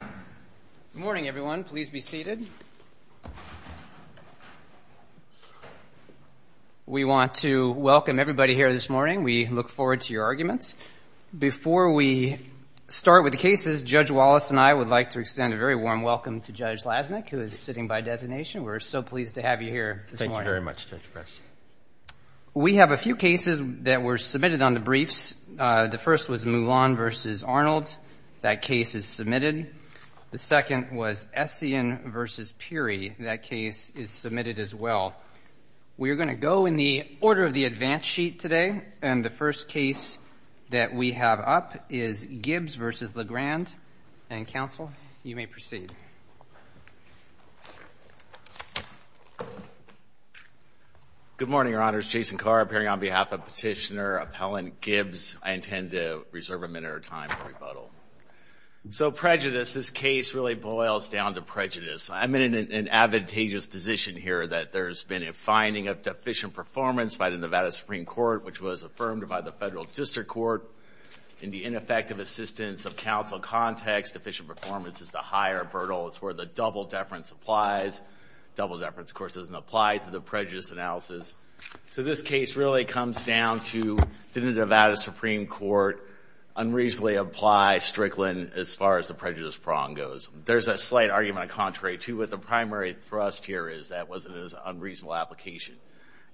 Good morning, everyone. Please be seated. We want to welcome everybody here this morning. We look forward to your arguments. Before we start with the cases, Judge Wallace and I would like to extend a very warm welcome to Judge Lasnik, who is sitting by designation. We're so pleased to have you here this morning. Thank you very much, Judge Press. We have a few cases that were submitted on the briefs. The first was Moulin v. Arnold. That case is submitted. The second was Essien v. Peary. That case is submitted as well. We are going to go in the order of the advance sheet today, and the first case that we have up is Gibbs v. LeGrand. Counsel, you may proceed. Good morning, Your Honors. Jason Carr appearing on behalf of Petitioner Appellant Gibbs. I intend to reserve a minute or time for rebuttal. So prejudice, this case really boils down to prejudice. I'm in an advantageous position here that there's been a finding of deficient performance by the Nevada Supreme Court, which was affirmed by the Federal District Court. In the ineffective assistance of counsel context, deficient performance is the higher vertical. It's where the double-deference applies. Double-deference, of course, doesn't apply to the prejudice analysis. So this case really comes down to, did the Nevada Supreme Court unreasonably apply Strickland as far as the prejudice prong goes? There's a slight argument of contrary to what the primary thrust here is, that it was an unreasonable application.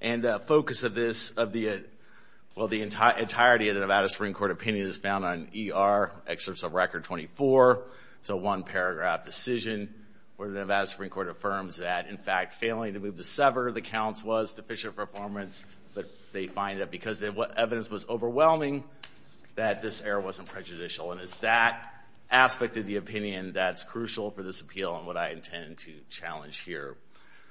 And the focus of this, well, the entirety of the Nevada Supreme Court opinion is found on ER excerpts of Record 24. It's a one-paragraph decision where the Nevada Supreme Court affirms that, in fact, failing to move the sever, the counts was deficient performance, but they find that because what evidence was overwhelming, that this error wasn't prejudicial. And it's that aspect of the opinion that's crucial for this appeal and what I intend to challenge here.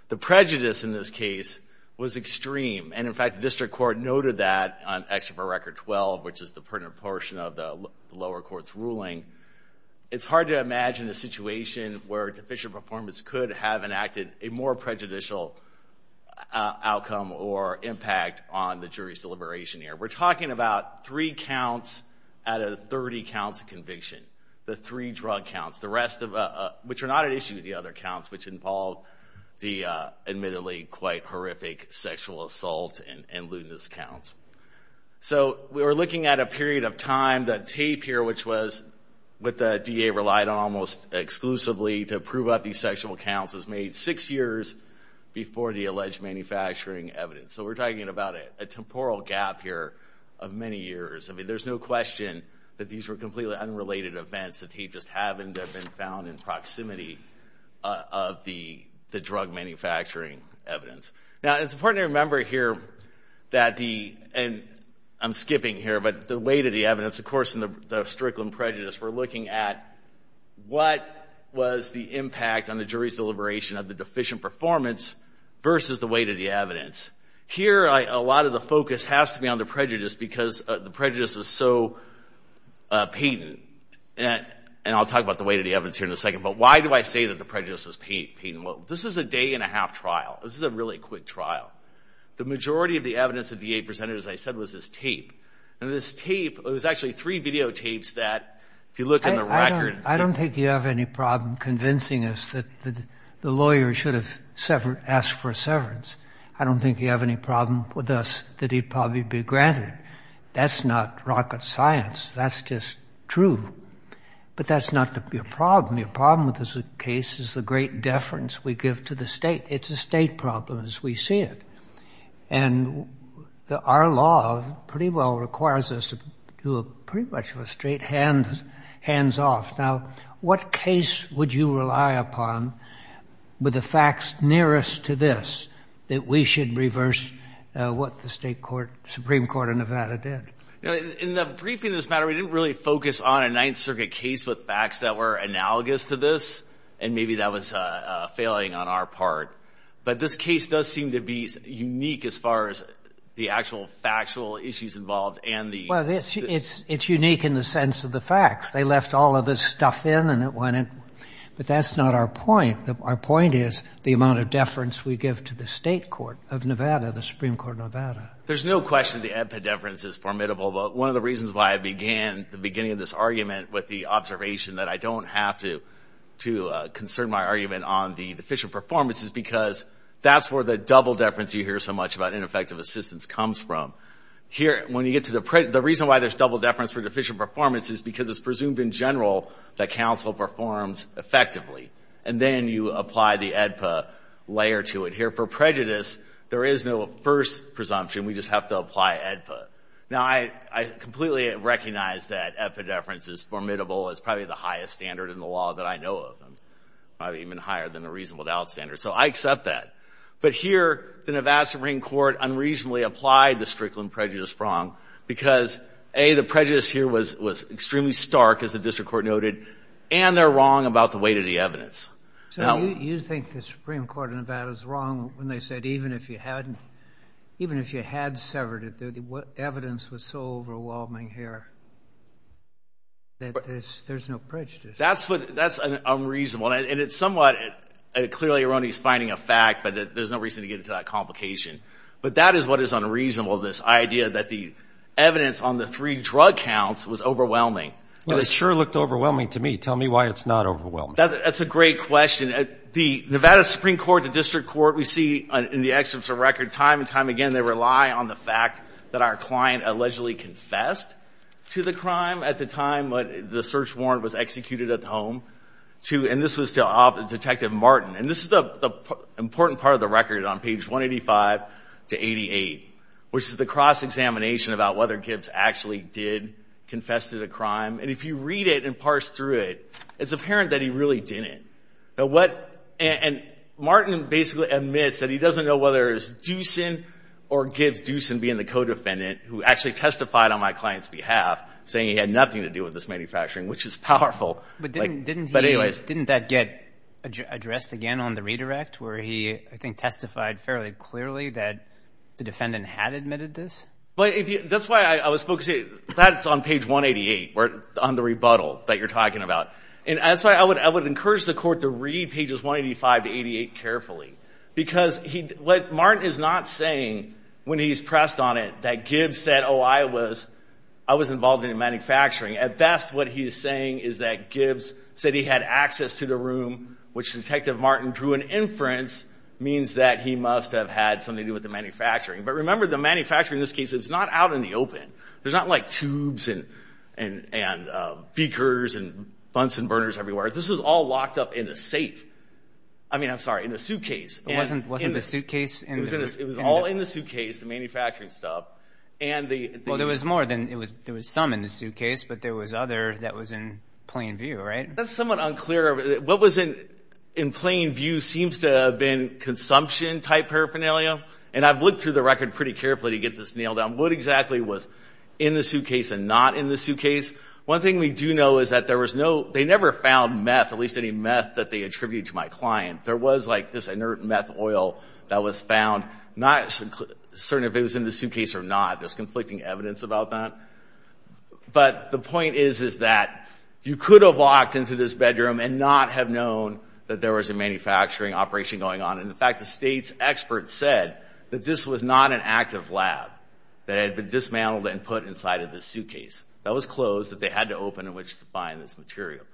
The prejudice in this case was extreme. And, in fact, the District Court noted that on Excerpt of Record 12, which is the pertinent portion of the lower court's ruling. It's hard to imagine a situation where deficient performance could have enacted a more prejudicial outcome or impact on the jury's deliberation here. We're talking about three counts out of 30 counts of conviction, the three drug counts, which are not at issue with the other counts, which involve the admittedly quite horrific sexual assault and lewdness counts. So we were looking at a period of time that TAPE here, which was what the DA relied on almost exclusively to prove out these sexual counts, was made six years before the alleged manufacturing evidence. So we're talking about a temporal gap here of many years. I mean, there's no question that these were completely unrelated events that TAPE just happened to have been found in proximity of the drug manufacturing evidence. Now, it's important to remember here that the – and I'm skipping here – but the weight of the evidence, of course, in the Strickland prejudice, we're looking at what was the impact on the jury's deliberation of the deficient performance versus the weight of the evidence. Here, a lot of the focus has to be on the prejudice because the prejudice was so patent. And I'll talk about the weight of the evidence here in a second, but why do I say that the prejudice was patent? Well, this is a day-and-a-half trial. This is a really quick trial. The majority of the evidence the DA presented, as I said, was this tape. And this tape – it was actually three videotapes that, if you look in the record – I don't think you have any problem convincing us that the lawyer should have asked for a severance. I don't think you have any problem with us that he'd probably be granted it. That's not rocket science. That's just true. But that's not your problem. Your problem with this case is the great deference we give to the state. It's a state problem as we see it. And our law pretty well requires us to do pretty much a straight hands-off. Now, what case would you rely upon with the facts nearest to this that we should reverse what the Supreme Court of Nevada did? In the briefing of this matter, we didn't really focus on a Ninth Circuit case with facts that were analogous to this, and maybe that was failing on our part. But this case does seem to be unique as far as the actual factual issues involved and the – they left all of this stuff in and it went in. But that's not our point. Our point is the amount of deference we give to the state court of Nevada, the Supreme Court of Nevada. There's no question the epideference is formidable. But one of the reasons why I began the beginning of this argument with the observation that I don't have to concern my argument on the deficient performance is because that's where the double deference you hear so much about ineffective assistance comes from. Here, when you get to the – the reason why there's double deference for deficient performance is because it's presumed in general that counsel performs effectively. And then you apply the AEDPA layer to it. Here, for prejudice, there is no first presumption. We just have to apply AEDPA. Now, I completely recognize that epideference is formidable. It's probably the highest standard in the law that I know of. It's probably even higher than the reasonable doubt standard. So I accept that. But here, the Nevada Supreme Court unreasonably applied the Strickland prejudice wrong because, A, the prejudice here was extremely stark, as the district court noted, and they're wrong about the weight of the evidence. So you think the Supreme Court of Nevada is wrong when they said even if you hadn't – even if you had severed it, the evidence was so overwhelming here that there's no prejudice. That's what – that's unreasonable. And it's somewhat clearly erroneous finding a fact, but there's no reason to get into that complication. But that is what is unreasonable, this idea that the evidence on the three drug counts was overwhelming. Well, it sure looked overwhelming to me. Tell me why it's not overwhelming. That's a great question. The Nevada Supreme Court, the district court, we see in the excerpts of record time and time again, they rely on the fact that our client allegedly confessed to the crime at the time the search warrant was executed at the home. And this was to Detective Martin. And this is the important part of the record on page 185 to 88, which is the cross-examination about whether Gibbs actually did confess to the crime. And if you read it and parse through it, it's apparent that he really didn't. And Martin basically admits that he doesn't know whether it was Doosan or Gibbs, Doosan being the codefendant, who actually testified on my client's behalf, saying he had nothing to do with this manufacturing, which is powerful. But didn't that get addressed again on the redirect where he, I think, testified fairly clearly that the defendant had admitted this? That's why I was focusing on page 188 on the rebuttal that you're talking about. And that's why I would encourage the court to read pages 185 to 88 carefully, because what Martin is not saying when he's pressed on it that Gibbs said, oh, I was involved in manufacturing. At best, what he is saying is that Gibbs said he had access to the room, which Detective Martin drew an inference means that he must have had something to do with the manufacturing. But remember, the manufacturing in this case is not out in the open. There's not, like, tubes and beakers and bunsen burners everywhere. This was all locked up in a safe. I mean, I'm sorry, in a suitcase. It wasn't the suitcase? It was all in the suitcase, the manufacturing stuff. Well, there was some in the suitcase, but there was other that was in plain view, right? That's somewhat unclear. What was in plain view seems to have been consumption-type paraphernalia. And I've looked through the record pretty carefully to get this nailed down. What exactly was in the suitcase and not in the suitcase? One thing we do know is that there was no ñ they never found meth, at least any meth that they attributed to my client. There was, like, this inert meth oil that was found. Not certain if it was in the suitcase or not. There's conflicting evidence about that. But the point is, is that you could have walked into this bedroom and not have known that there was a manufacturing operation going on. And, in fact, the state's experts said that this was not an active lab, that it had been dismantled and put inside of this suitcase. That was closed, that they had to open it in order to find this material.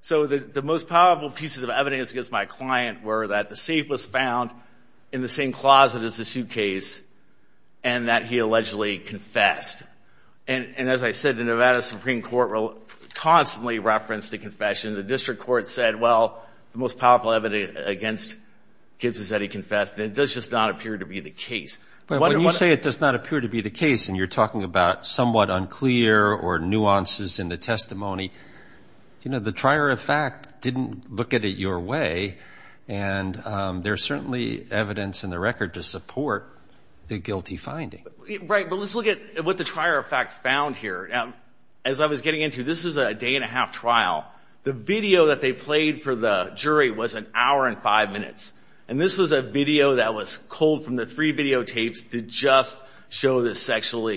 So the most powerful pieces of evidence against my client were that the safe was found in the same closet as the suitcase and that he allegedly confessed. And, as I said, the Nevada Supreme Court constantly referenced the confession. The district court said, well, the most powerful evidence against Gibbs is that he confessed, and it does just not appear to be the case. When you say it does not appear to be the case and you're talking about somewhat unclear or nuances in the testimony, the trier of fact didn't look at it your way, and there's certainly evidence in the record to support the guilty finding. Right, but let's look at what the trier of fact found here. As I was getting into it, this was a day-and-a-half trial. The video that they played for the jury was an hour and five minutes, and this was a video that was culled from the three videotapes to just show the sexual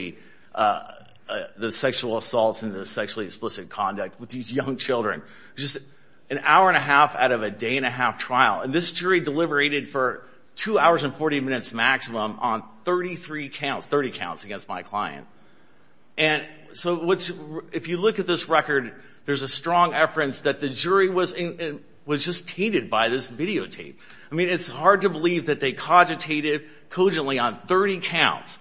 assaults and the sexually explicit conduct with these young children. Just an hour and a half out of a day-and-a-half trial, and this jury deliberated for two hours and 40 minutes maximum on 30 counts against my client. And so if you look at this record, there's a strong efference that the jury was just tainted by this videotape. I mean, it's hard to believe that they cogitated cogently on 30 counts.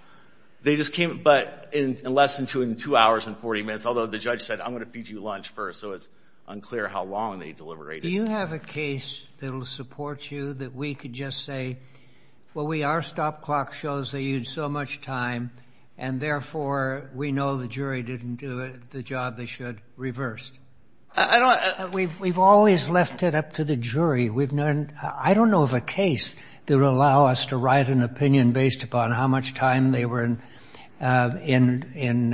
They just came, but in less than two hours and 40 minutes, although the judge said, I'm going to feed you lunch first, so it's unclear how long they deliberated. Do you have a case that will support you that we could just say, well, we are stop-clock shows, they used so much time, and therefore we know the jury didn't do the job they should, reversed? We've always left it up to the jury. I don't know of a case that would allow us to write an opinion based upon how much time they were in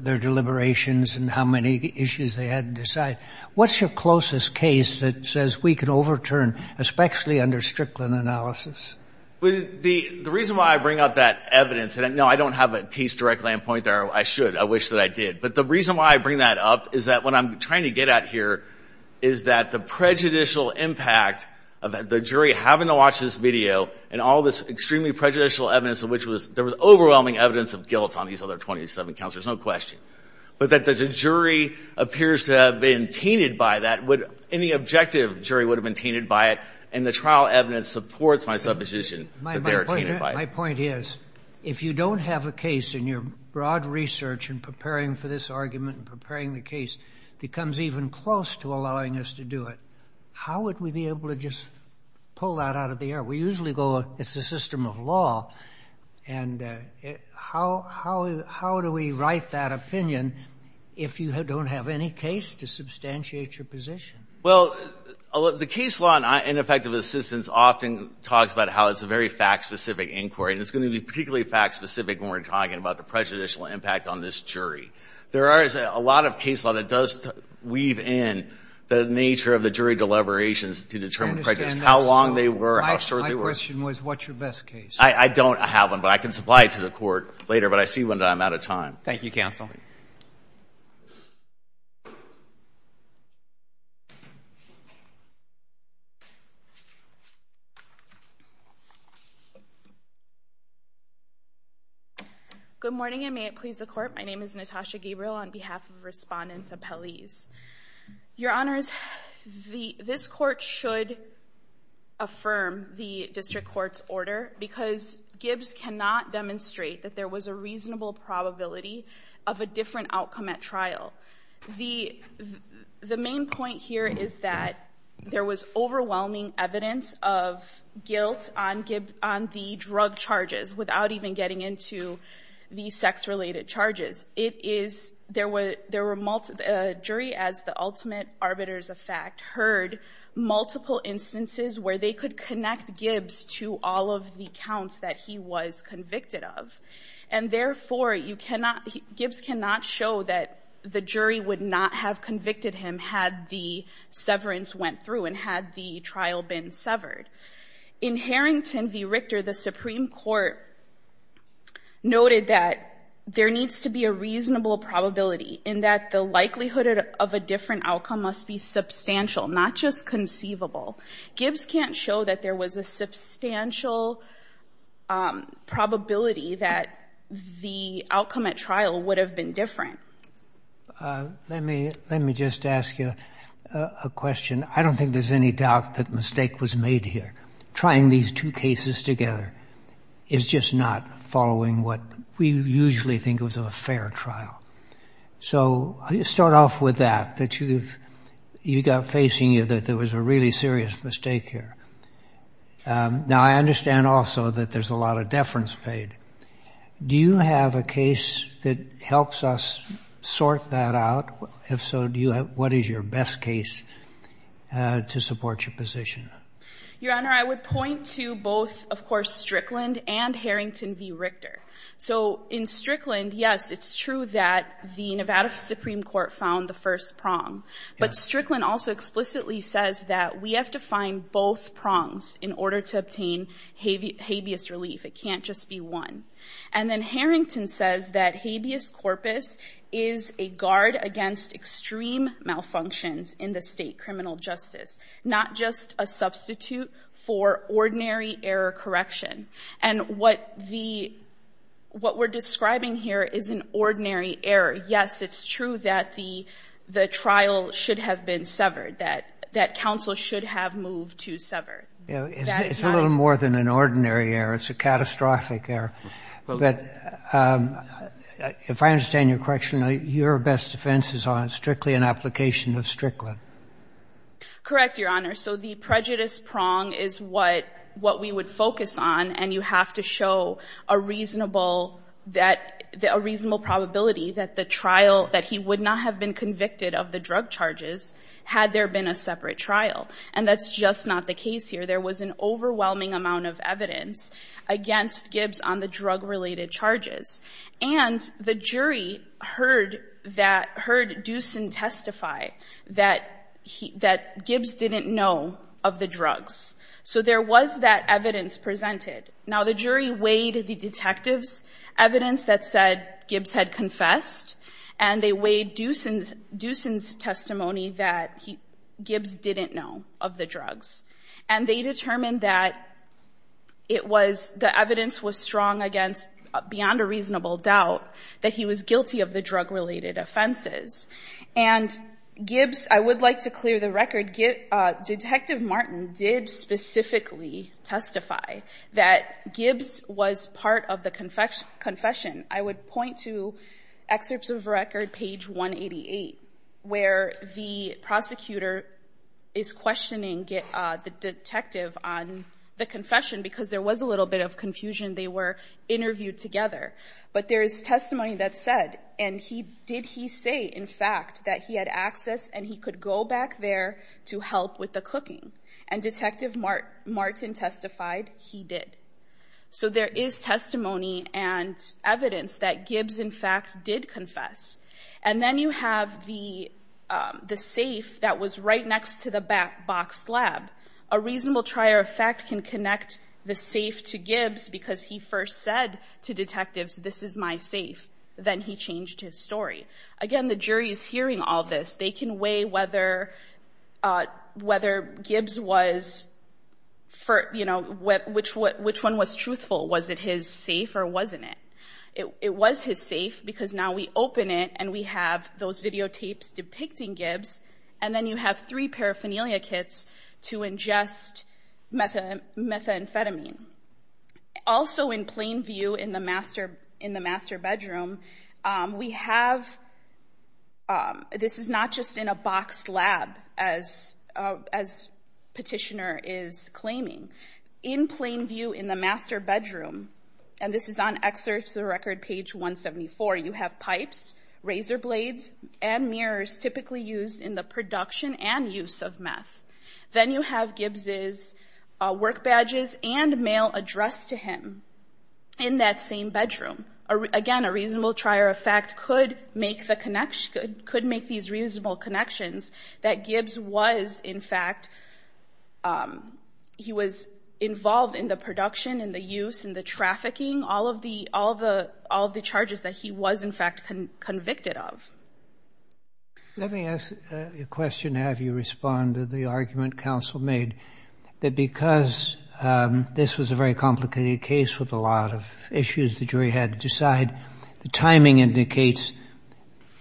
their deliberations and how many issues they had to decide. What's your closest case that says we can overturn, especially under Strickland analysis? The reason why I bring up that evidence, and, no, I don't have a piece directly in point there. I should. I wish that I did. But the reason why I bring that up is that what I'm trying to get at here is that the prejudicial impact of the jury having to watch this video and all this extremely prejudicial evidence of which there was overwhelming evidence of guilt on these other 27 counselors, no question, but that the jury appears to have been tainted by that. Any objective jury would have been tainted by it, and the trial evidence supports my supposition that they were tainted by it. My point is, if you don't have a case, and your broad research in preparing for this argument and preparing the case becomes even close to allowing us to do it, how would we be able to just pull that out of the air? We usually go, it's a system of law, and how do we write that opinion if you don't have any case to substantiate your position? Well, the case law in effect of assistance often talks about how it's a very fact-specific inquiry, and it's going to be particularly fact-specific when we're talking about the prejudicial impact on this jury. There is a lot of case law that does weave in the nature of the jury deliberations to determine prejudice, how long they were, how short they were. My question was, what's your best case? I don't have one, but I can supply it to the court later, but I see one that I'm out of time. Thank you, counsel. Good morning, and may it please the court, my name is Natasha Gabriel on behalf of Respondents Appellees. Your Honors, this court should affirm the district court's order because Gibbs cannot demonstrate that there was a reasonable probability of a different outcome at trial. The main point here is that there was overwhelming evidence of guilt on the drug charges without even getting into the sex-related charges. It is — there were — a jury, as the ultimate arbiters of fact, heard multiple instances where they could connect Gibbs to all of the counts that he was convicted of. And therefore, you cannot — Gibbs cannot show that the jury would not have convicted him had the severance went through and had the trial been severed. In Harrington v. Richter, the Supreme Court noted that there needs to be a reasonable probability in that the likelihood of a different outcome must be substantial, not just conceivable. Gibbs can't show that there was a substantial probability that the outcome at trial would have been different. Let me — let me just ask you a question. I don't think there's any doubt that mistake was made here. Trying these two cases together is just not following what we usually think of as a fair trial. So I'll start off with that, that you've — you got facing you that there was a really serious mistake here. Now, I understand also that there's a lot of deference paid. Do you have a case that helps us sort that out? If so, do you have — what is your best case to support your position? Your Honor, I would point to both, of course, Strickland and Harrington v. Richter. So in Strickland, yes, it's true that the Nevada Supreme Court found the first prong. But Strickland also explicitly says that we have to find both prongs in order to obtain habeas relief. It can't just be one. And then Harrington says that habeas corpus is a guard against extreme malfunctions in the state criminal justice, not just a substitute for ordinary error correction. And what the — what we're describing here is an ordinary error. Yes, it's true that the trial should have been severed, that counsel should have moved to sever. It's a little more than an ordinary error. It's a catastrophic error. But if I understand your question, your best defense is on strictly an application of Strickland. Correct, Your Honor. So the prejudice prong is what we would focus on, and you have to show a reasonable — a reasonable probability that the trial — that he would not have been convicted of the drug charges had there been a separate trial. And that's just not the case here. There was an overwhelming amount of evidence against Gibbs on the drug-related charges. And the jury heard that — heard Doosan testify that Gibbs didn't know of the drugs. So there was that evidence presented. Now, the jury weighed the detective's evidence that said Gibbs had confessed, and they weighed Doosan's testimony that Gibbs didn't know of the drugs. And they determined that it was — the evidence was strong against — beyond a reasonable doubt that he was guilty of the drug-related offenses. And Gibbs — I would like to clear the record. Detective Martin did specifically testify that Gibbs was part of the confession. I would point to excerpts of record, page 188, where the prosecutor is questioning the detective on the confession because there was a little bit of confusion. They were interviewed together. But there is testimony that said, and he — did he say, in fact, that he had access and he could go back there to help with the cooking. And Detective Martin testified he did. So there is testimony and evidence that Gibbs, in fact, did confess. And then you have the safe that was right next to the box slab. A reasonable trier of fact can connect the safe to Gibbs because he first said to detectives, this is my safe. Then he changed his story. Again, the jury is hearing all this. They can weigh whether Gibbs was — you know, which one was truthful. Was it his safe or wasn't it? It was his safe because now we open it and we have those videotapes depicting Gibbs. And then you have three paraphernalia kits to ingest methamphetamine. Also in plain view in the master bedroom, we have — this is not just in a box slab, as Petitioner is claiming. In plain view in the master bedroom, and this is on excerpts of Record Page 174, you have pipes, razor blades, and mirrors typically used in the production and use of meth. Then you have Gibbs' work badges and mail addressed to him in that same bedroom. Again, a reasonable trier of fact could make these reasonable connections that Gibbs was, in fact, he was involved in the production and the use and the trafficking, all of the charges that he was, in fact, convicted of. Let me ask a question to have you respond to the argument counsel made, that because this was a very complicated case with a lot of issues the jury had to decide, the timing indicates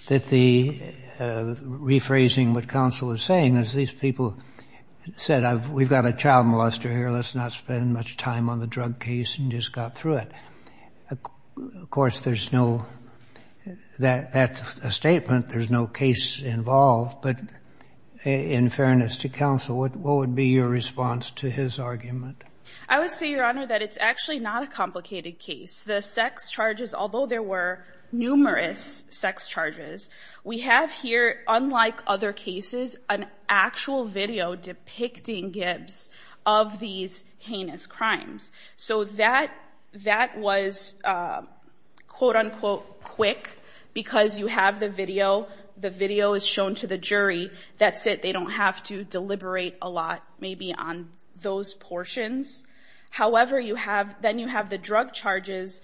that the — rephrasing what counsel was saying, as these people said, we've got a child molester here, let's not spend much time on the drug case and just go through it. Of course, there's no — that's a statement. There's no case involved. But in fairness to counsel, what would be your response to his argument? I would say, Your Honor, that it's actually not a complicated case. The sex charges, although there were numerous sex charges, we have here, unlike other cases, an actual video depicting Gibbs of these heinous crimes. So that was, quote, unquote, quick, because you have the video. The video is shown to the jury. That's it. They don't have to deliberate a lot, maybe, on those portions. However, you have — then you have the drug charges.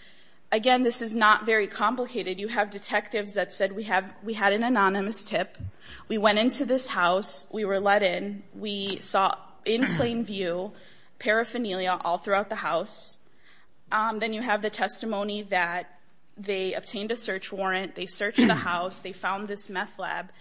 Again, this is not very complicated. You have detectives that said, We had an anonymous tip. We went into this house. We were let in. We saw, in plain view, paraphernalia all throughout the house. Then you have the testimony that they obtained a search warrant. They searched the house. They found this meth lab.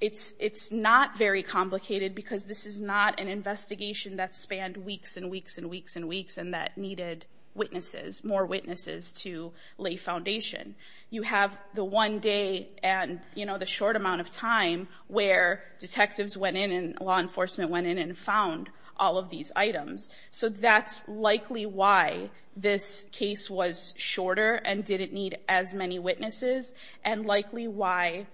It's not very complicated because this is not an investigation that spanned weeks and weeks and weeks and weeks and that needed witnesses, more witnesses to lay foundation. You have the one day and the short amount of time where detectives went in and law enforcement went in and found all of these items. So that's likely why this case was shorter and didn't need as many witnesses and likely why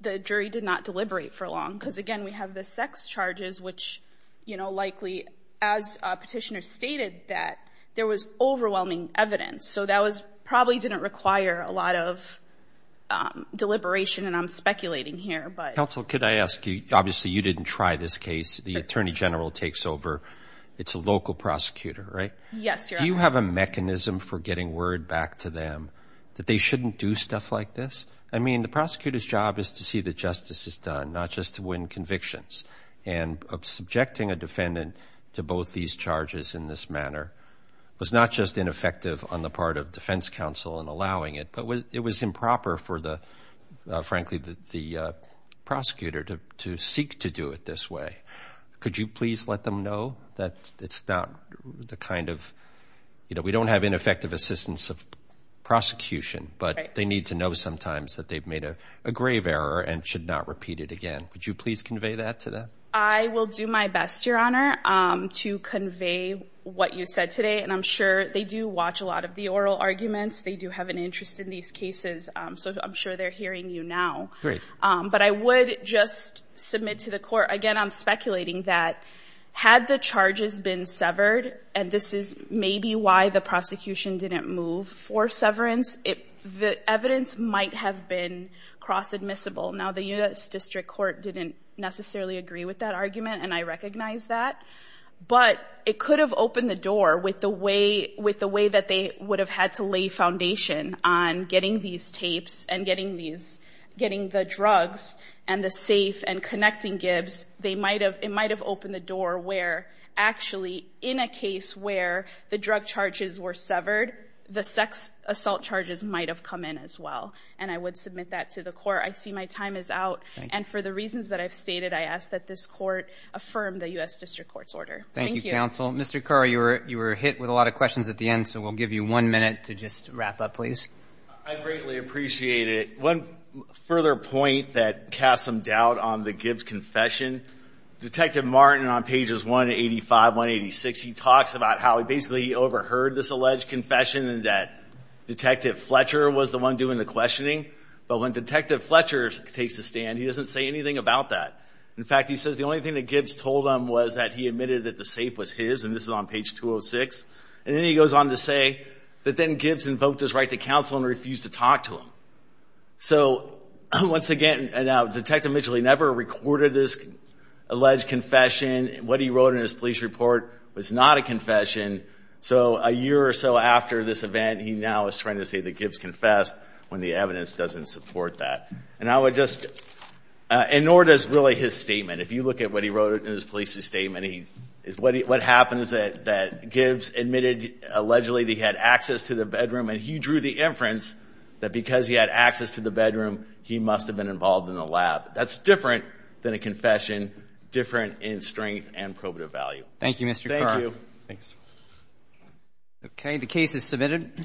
the jury did not deliberate for long, because, again, we have the sex charges, which likely, as Petitioner stated, that there was overwhelming evidence. So that probably didn't require a lot of deliberation, and I'm speculating here. Counsel, could I ask you — obviously you didn't try this case. The attorney general takes over. It's a local prosecutor, right? Yes, Your Honor. Do you have a mechanism for getting word back to them that they shouldn't do stuff like this? I mean, the prosecutor's job is to see that justice is done, not just to win convictions. And subjecting a defendant to both these charges in this manner was not just ineffective on the part of defense counsel in allowing it, but it was improper for, frankly, the prosecutor to seek to do it this way. Could you please let them know that it's not the kind of — you know, we don't have ineffective assistance of prosecution, but they need to know sometimes that they've made a grave error and should not repeat it again. Would you please convey that to them? I will do my best, Your Honor, to convey what you said today, and I'm sure they do watch a lot of the oral arguments. They do have an interest in these cases, so I'm sure they're hearing you now. Great. But I would just submit to the court — again, I'm speculating that had the charges been severed, and this is maybe why the prosecution didn't move for severance, the evidence might have been cross-admissible. Now, the U.S. District Court didn't necessarily agree with that argument, and I recognize that, but it could have opened the door with the way that they would have had to lay foundation on getting these tapes and getting the drugs and the safe and connecting Gibbs. It might have opened the door where, actually, in a case where the drug charges were severed, the sex assault charges might have come in as well, and I would submit that to the court. I see my time is out, and for the reasons that I've stated, I ask that this court affirm the U.S. District Court's order. Thank you. Thank you, counsel. Mr. Carr, you were hit with a lot of questions at the end, so we'll give you one minute to just wrap up, please. I greatly appreciate it. One further point that casts some doubt on the Gibbs confession, Detective Martin on pages 185, 186, he talks about how he basically overheard this alleged confession and that Detective Fletcher was the one doing the questioning. But when Detective Fletcher takes the stand, he doesn't say anything about that. In fact, he says the only thing that Gibbs told him was that he admitted that the safe was his, and this is on page 206, and then he goes on to say that then Gibbs invoked his right to counsel and refused to talk to him. So once again, Detective Mitchell, he never recorded this alleged confession. What he wrote in his police report was not a confession. So a year or so after this event, he now is trying to say that Gibbs confessed when the evidence doesn't support that. And I would just, and nor does really his statement. If you look at what he wrote in his police statement, what happens is that Gibbs admitted allegedly that he had access to the bedroom, and he drew the inference that because he had access to the bedroom, he must have been involved in the lab. That's different than a confession, different in strength and probative value. Thank you, Mr. Carr. Thank you. Thanks. Okay, the case is submitted.